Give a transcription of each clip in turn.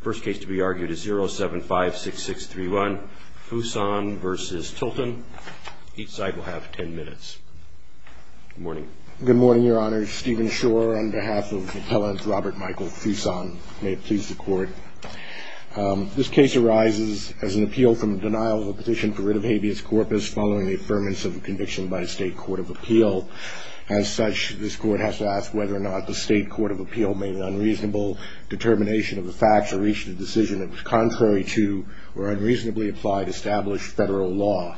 First case to be argued is 0756631, Fuson v. Tilton. Each side will have 10 minutes. Good morning. Good morning, Your Honor. Stephen Shore on behalf of the appellant Robert Michael Fuson. May it please the Court. This case arises as an appeal from the denial of a petition for writ of habeas corpus following the affirmance of a conviction by a State Court of Appeal. As such, this Court has to ask whether or not the State Court of Appeal made an unreasonable determination of the facts or reached a decision that was contrary to or unreasonably applied established federal law.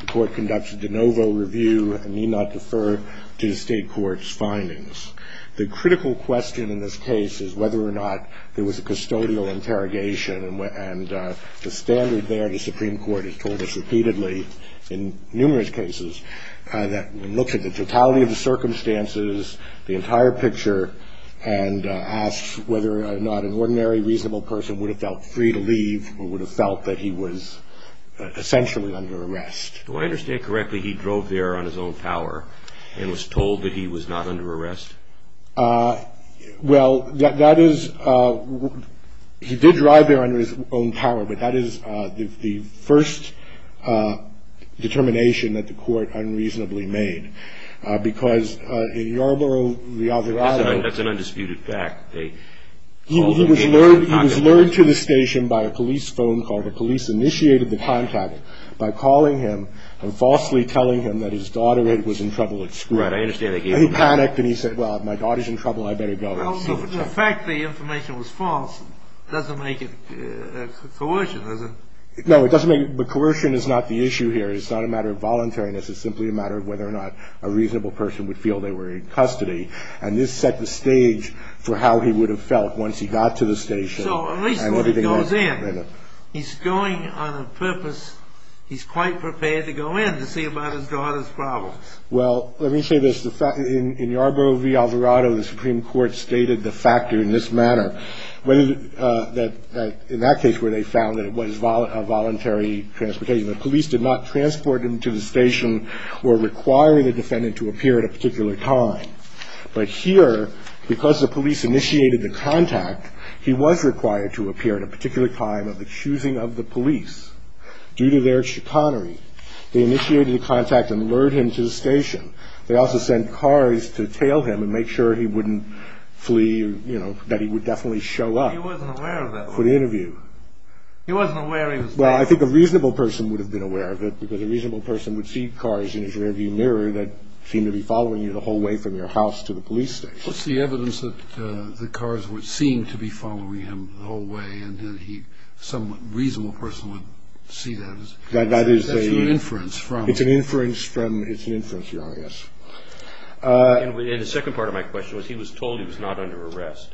The Court conducts a de novo review and need not defer to the State Court's findings. The critical question in this case is whether or not there was a custodial interrogation, and the standard there, the Supreme Court has told us repeatedly in numerous cases, looks at the totality of the circumstances, the entire picture, and asks whether or not an ordinary reasonable person would have felt free to leave or would have felt that he was essentially under arrest. Do I understand correctly he drove there on his own power and was told that he was not under arrest? Well, that is, he did drive there under his own power, but that is the first determination that the Court unreasonably made, because in Yarborough, the other island. That's an undisputed fact. He was lured to the station by a police phone call. The police initiated the contact by calling him and falsely telling him that his daughter was in trouble at school. Right, I understand they gave him that. And he panicked and he said, well, if my daughter's in trouble, I better go. Well, the fact the information was false doesn't make it coercion, does it? No, it doesn't make it, but coercion is not the issue here. It's not a matter of voluntariness. It's simply a matter of whether or not a reasonable person would feel they were in custody, and this set the stage for how he would have felt once he got to the station. So at least when he goes in, he's going on a purpose, he's quite prepared to go in to see about his daughter's problems. Well, let me say this. In Yarborough v. Alvarado, the Supreme Court stated the factor in this manner, that in that case where they found that it was a voluntary transportation, the police did not transport him to the station or require the defendant to appear at a particular time. But here, because the police initiated the contact, he was required to appear at a particular time of accusing of the police due to their chicanery. They initiated the contact and lured him to the station. They also sent cars to tail him and make sure he wouldn't flee, you know, that he would definitely show up for the interview. He wasn't aware of that. He wasn't aware he was there. Well, I think a reasonable person would have been aware of it because a reasonable person would see cars in his rearview mirror that seemed to be following you the whole way from your house to the police station. What's the evidence that the cars would seem to be following him the whole way and that he, some reasonable person, would see that? That is a... That's an inference from... It's an inference from... It's an inference, Your Honor, yes. And the second part of my question was he was told he was not under arrest.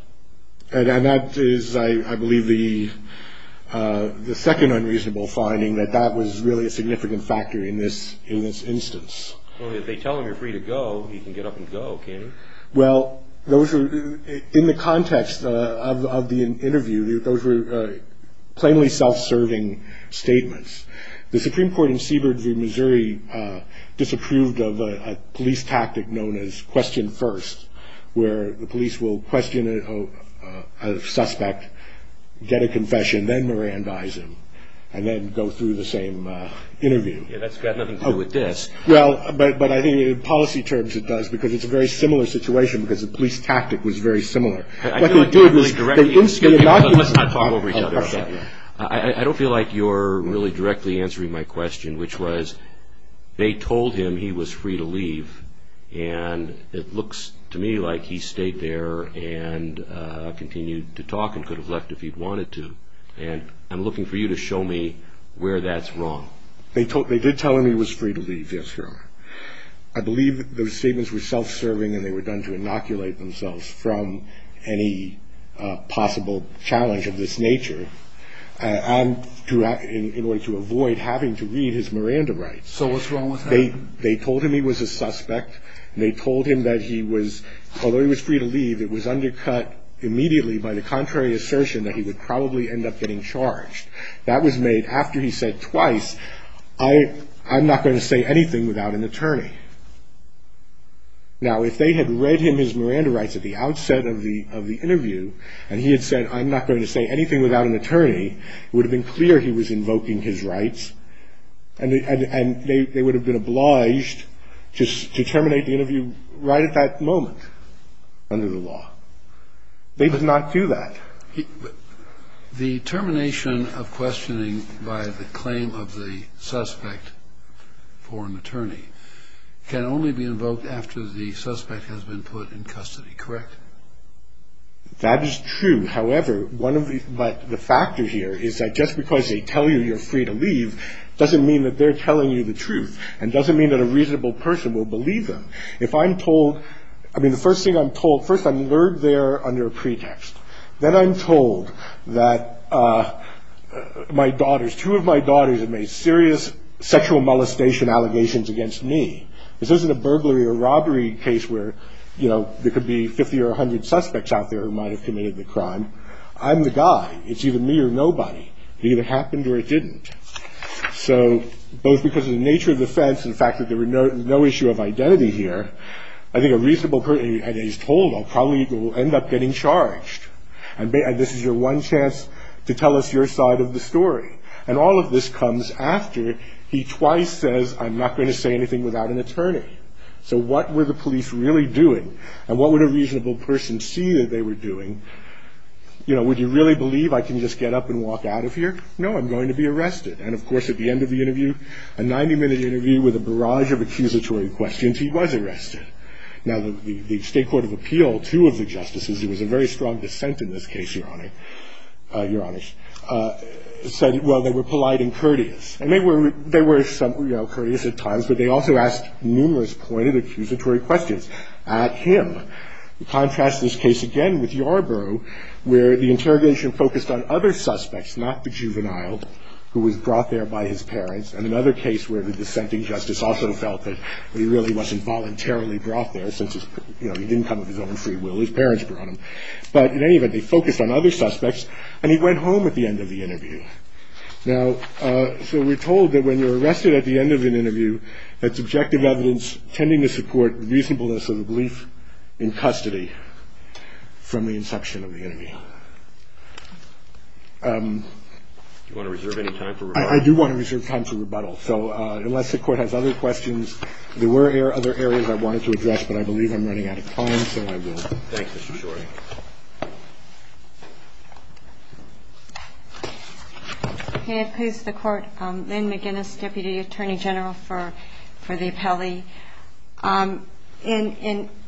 And that is, I believe, the second unreasonable finding that that was really a significant factor in this instance. Only if they tell him you're free to go, he can get up and go, can't he? Well, those were, in the context of the interview, those were plainly self-serving statements. The Supreme Court in Seabird v. Missouri disapproved of a police tactic known as question first, where the police will question a suspect, get a confession, then Mirandize him, and then go through the same interview. Yeah, that's got nothing to do with this. Well, but I think in policy terms it does because it's a very similar situation because the police tactic was very similar. I feel like you're really directing... Let's not talk over each other, okay? I don't feel like you're really directly answering my question, which was they told him he was free to leave, and it looks to me like he stayed there and continued to talk and could have left if he'd wanted to. And I'm looking for you to show me where that's wrong. They did tell him he was free to leave, yes, Your Honor. I believe those statements were self-serving and they were done to inoculate themselves from any possible challenge of this nature in order to avoid having to read his Miranda rights. So what's wrong with that? They told him he was a suspect. They told him that he was, although he was free to leave, it was undercut immediately by the contrary assertion that he would probably end up getting charged. That was made after he said twice, I'm not going to say anything without an attorney. Now if they had read him his Miranda rights at the outset of the interview and he had said I'm not going to say anything without an attorney, it would have been clear he was invoking his rights and they would have been obliged to terminate the interview right at that moment under the law. They did not do that. The termination of questioning by the claim of the suspect for an attorney can only be invoked after the suspect has been put in custody, correct? That is true. However, one of the factors here is that just because they tell you you're free to leave doesn't mean that they're telling you the truth and doesn't mean that a reasonable person will believe them. If I'm told, I mean the first thing I'm told, first I'm lured there under a pretext. Then I'm told that my daughters, two of my daughters have made serious sexual molestation allegations against me. This isn't a burglary or robbery case where, you know, there could be 50 or 100 suspects out there who might have committed the crime. I'm the guy. It's either me or nobody. It either happened or it didn't. So both because of the nature of the offense and the fact that there was no issue of identity here, I think a reasonable person, as he's told, will probably end up getting charged. And this is your one chance to tell us your side of the story. And all of this comes after he twice says I'm not going to say anything without an attorney. So what were the police really doing? And what would a reasonable person see that they were doing? You know, would you really believe I can just get up and walk out of here? No, I'm going to be arrested. And, of course, at the end of the interview, a 90-minute interview with a barrage of accusatory questions, he was arrested. Now, the State Court of Appeal, two of the justices, it was a very strong dissent in this case, Your Honor, said, well, they were polite and courteous. And they were courteous at times, but they also asked numerous pointed accusatory questions at him. Contrast this case again with Yarborough, where the interrogation focused on other suspects, not the juvenile, who was brought there by his parents, and another case where the dissenting justice also felt that he really wasn't voluntarily brought there since he didn't come of his own free will, his parents brought him. But in any event, they focused on other suspects, and he went home at the end of the interview. Now, so we're told that when you're arrested at the end of an interview, that's objective evidence tending to support the reasonableness of the belief in custody from the inception of the interview. Do you want to reserve any time for rebuttal? I do want to reserve time for rebuttal. So unless the Court has other questions, there were other areas I wanted to address, but I believe I'm running out of time, so I will. Thanks, Mr. Shorey. May it please the Court. Lynn McGinnis, Deputy Attorney General for the appellee.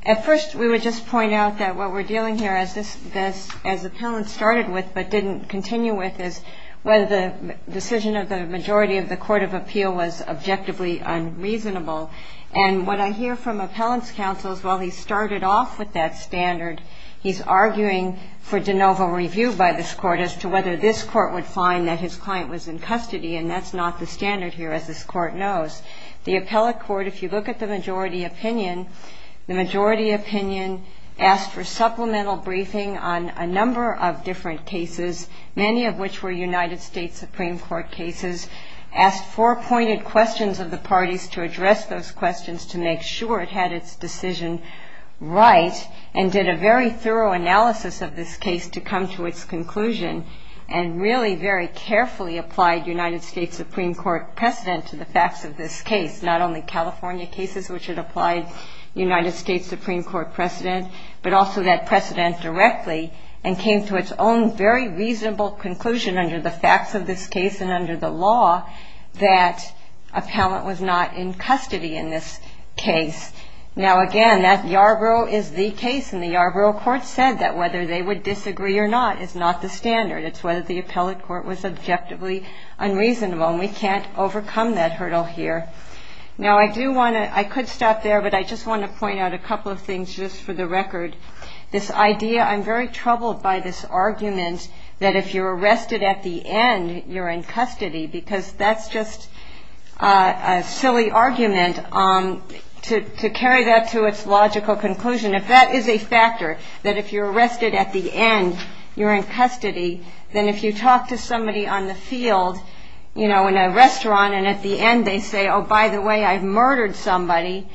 At first, we would just point out that what we're dealing here, as appellants started with but didn't continue with, is whether the decision of the majority of the Court of Appeal was objectively unreasonable. And what I hear from appellants' counsel is, well, he started off with that standard. He's arguing for de novo review by this Court as to whether this Court would find that his client was in custody, and that's not the standard here, as this Court knows. The appellate court, if you look at the majority opinion, the majority opinion asked for supplemental briefing on a number of different cases, many of which were United States Supreme Court cases, asked four-pointed questions of the parties to address those questions to make sure it had its decision right, and did a very thorough analysis of this case to come to its conclusion, and really very carefully applied United States Supreme Court precedent to the facts of this case, not only California cases, which had applied United States Supreme Court precedent, but also that precedent directly, and came to its own very reasonable conclusion under the facts of this case and under the law that appellant was not in custody in this case. Now, again, that Yarborough is the case, and the Yarborough Court said that whether they would disagree or not is not the standard. It's whether the appellate court was objectively unreasonable, and we can't overcome that hurdle here. Now, I do want to – I could stop there, but I just want to point out a couple of things just for the record. This idea – I'm very troubled by this argument that if you're arrested at the end, you're in custody, because that's just a silly argument to carry that to its logical conclusion. If that is a factor, that if you're arrested at the end, you're in custody, then if you talk to somebody on the field, you know, in a restaurant, and at the end they say, oh, by the way, I've murdered somebody,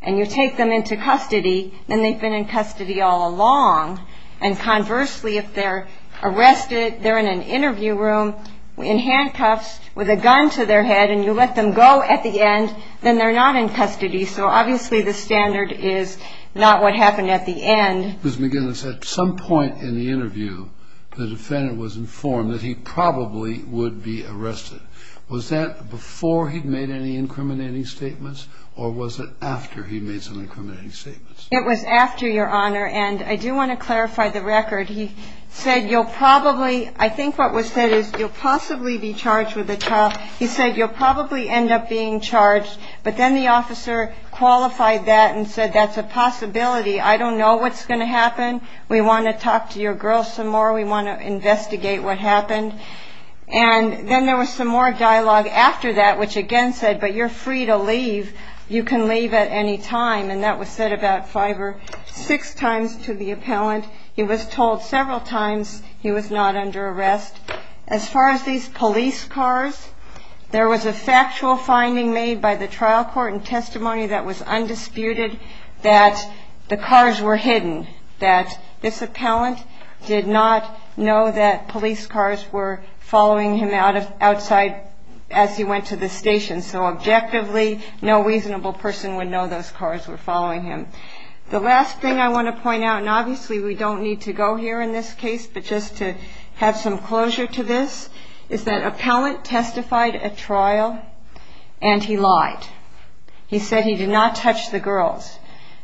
and you take them into custody, then they've been in custody all along. And conversely, if they're arrested, they're in an interview room in handcuffs with a gun to their head, and you let them go at the end, then they're not in custody. So obviously the standard is not what happened at the end. Ms. McGinnis, at some point in the interview, the defendant was informed that he probably would be arrested. Was that before he'd made any incriminating statements, or was it after he'd made some incriminating statements? It was after, Your Honor, and I do want to clarify the record. He said, you'll probably, I think what was said is, you'll possibly be charged with a child. He said, you'll probably end up being charged. But then the officer qualified that and said, that's a possibility. I don't know what's going to happen. We want to talk to your girl some more. We want to investigate what happened. And then there was some more dialogue after that, which again said, but you're free to leave. You can leave at any time, and that was said about five or six times to the appellant. He was told several times he was not under arrest. As far as these police cars, there was a factual finding made by the trial court and testimony that was undisputed that the cars were hidden, that this appellant did not know that police cars were following him outside as he went to the station. So objectively, no reasonable person would know those cars were following him. The last thing I want to point out, and obviously we don't need to go here in this case, but just to have some closure to this, is that appellant testified at trial, and he lied. He said he did not touch the girls.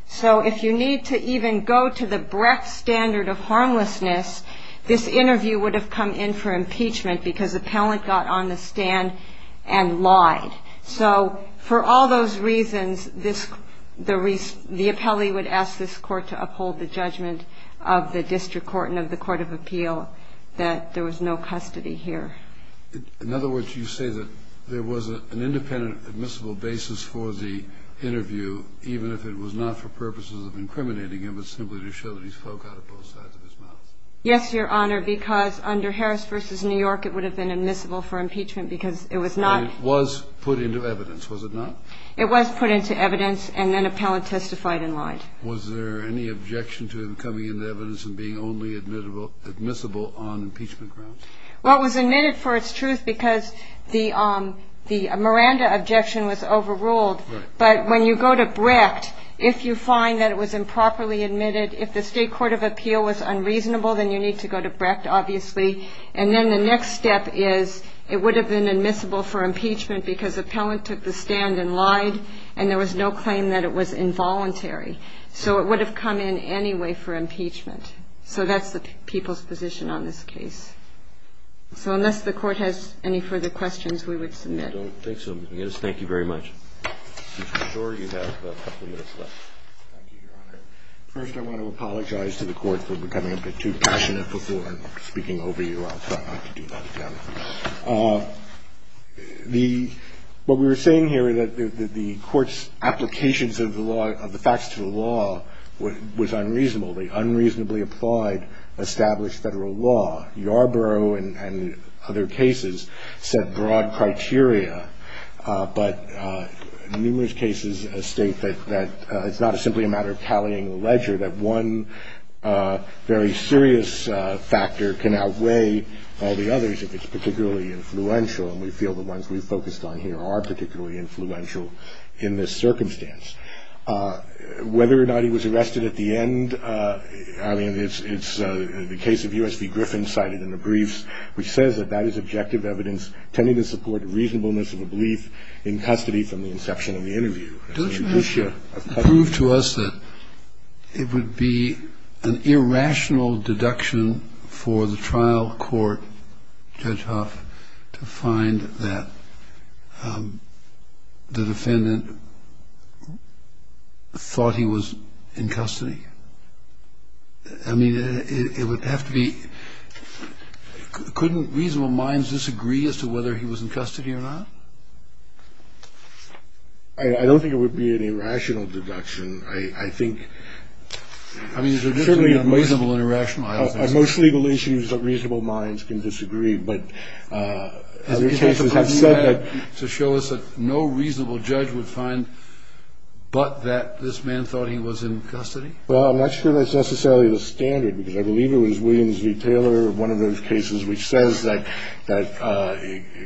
So if you need to even go to the breadth standard of harmlessness, this interview would have come in for impeachment because appellant got on the stand and lied. So for all those reasons, the appellee would ask this court to uphold the judgment of the district court and of the court of appeal that there was no custody here. In other words, you say that there was an independent, admissible basis for the interview, even if it was not for purposes of incriminating him, but simply to show that he spoke out of both sides of his mouth. Yes, Your Honor, because under Harris v. New York, it would have been admissible for impeachment because it was not. It was put into evidence, was it not? It was put into evidence, and then appellant testified and lied. Was there any objection to him coming into evidence and being only admissible on impeachment grounds? Well, it was admitted for its truth because the Miranda objection was overruled. But when you go to Brecht, if you find that it was improperly admitted, if the state court of appeal was unreasonable, then you need to go to Brecht, obviously. And then the next step is it would have been admissible for impeachment because appellant took the stand and lied, and there was no claim that it was involuntary. So it would have come in anyway for impeachment. So that's the people's position on this case. So unless the court has any further questions, we would submit. I don't think so, Mr. Nunez. Thank you very much. I'm sure you have a couple minutes left. Thank you, Your Honor. First, I want to apologize to the court for becoming a bit too passionate before speaking over you. I'll try not to do that again. What we were saying here is that the court's applications of the facts to the law was unreasonable. They unreasonably applied established federal law. Yarborough and other cases set broad criteria, but numerous cases state that it's not simply a matter of tallying the ledger, that one very serious factor can outweigh all the others if it's particularly influential, and we feel the ones we focused on here are particularly influential in this circumstance. Whether or not he was arrested at the end, I mean, it's the case of U.S. v. Griffin cited in the briefs, which says that that is objective evidence tending to support reasonableness of a belief in custody from the inception of the interview. Don't you have to prove to us that it would be an irrational deduction for the trial court, Judge Huff, to find that the defendant thought he was in custody? I mean, it would have to be – couldn't reasonable minds disagree as to whether he was in custody or not? I don't think it would be an irrational deduction. I think – I mean, is there a difference between reasonable and irrational? Most legal issues, reasonable minds can disagree, but other cases have said that – To show us that no reasonable judge would find but that this man thought he was in custody? Well, I'm not sure that's necessarily the standard, because I believe it was Williams v. Taylor, one of those cases which says that it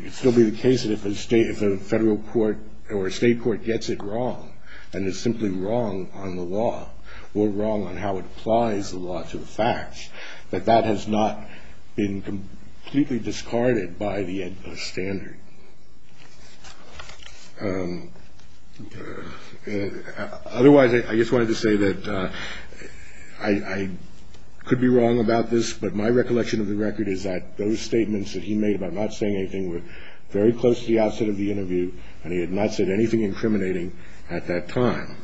could still be the case that if a state – if a federal court or a state court gets it wrong and is simply wrong on the law or wrong on how it applies the law to the facts, that that has not been completely discarded by the standard. Otherwise, I just wanted to say that I could be wrong about this, but my recollection of the record is that those statements that he made about not saying anything were very close to the outset of the interview, and he had not said anything incriminating at that time.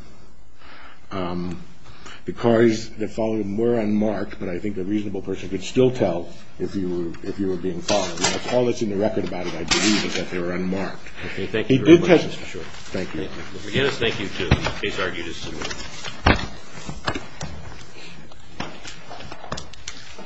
The cars that followed him were unmarked, but I think a reasonable person could still tell if you were being followed. That's all that's in the record about it, I believe, is that they were unmarked. Okay, thank you very much, Mr. Short. Thank you. Thank you. Mr. McGinnis, thank you, too. Case argued is submitted.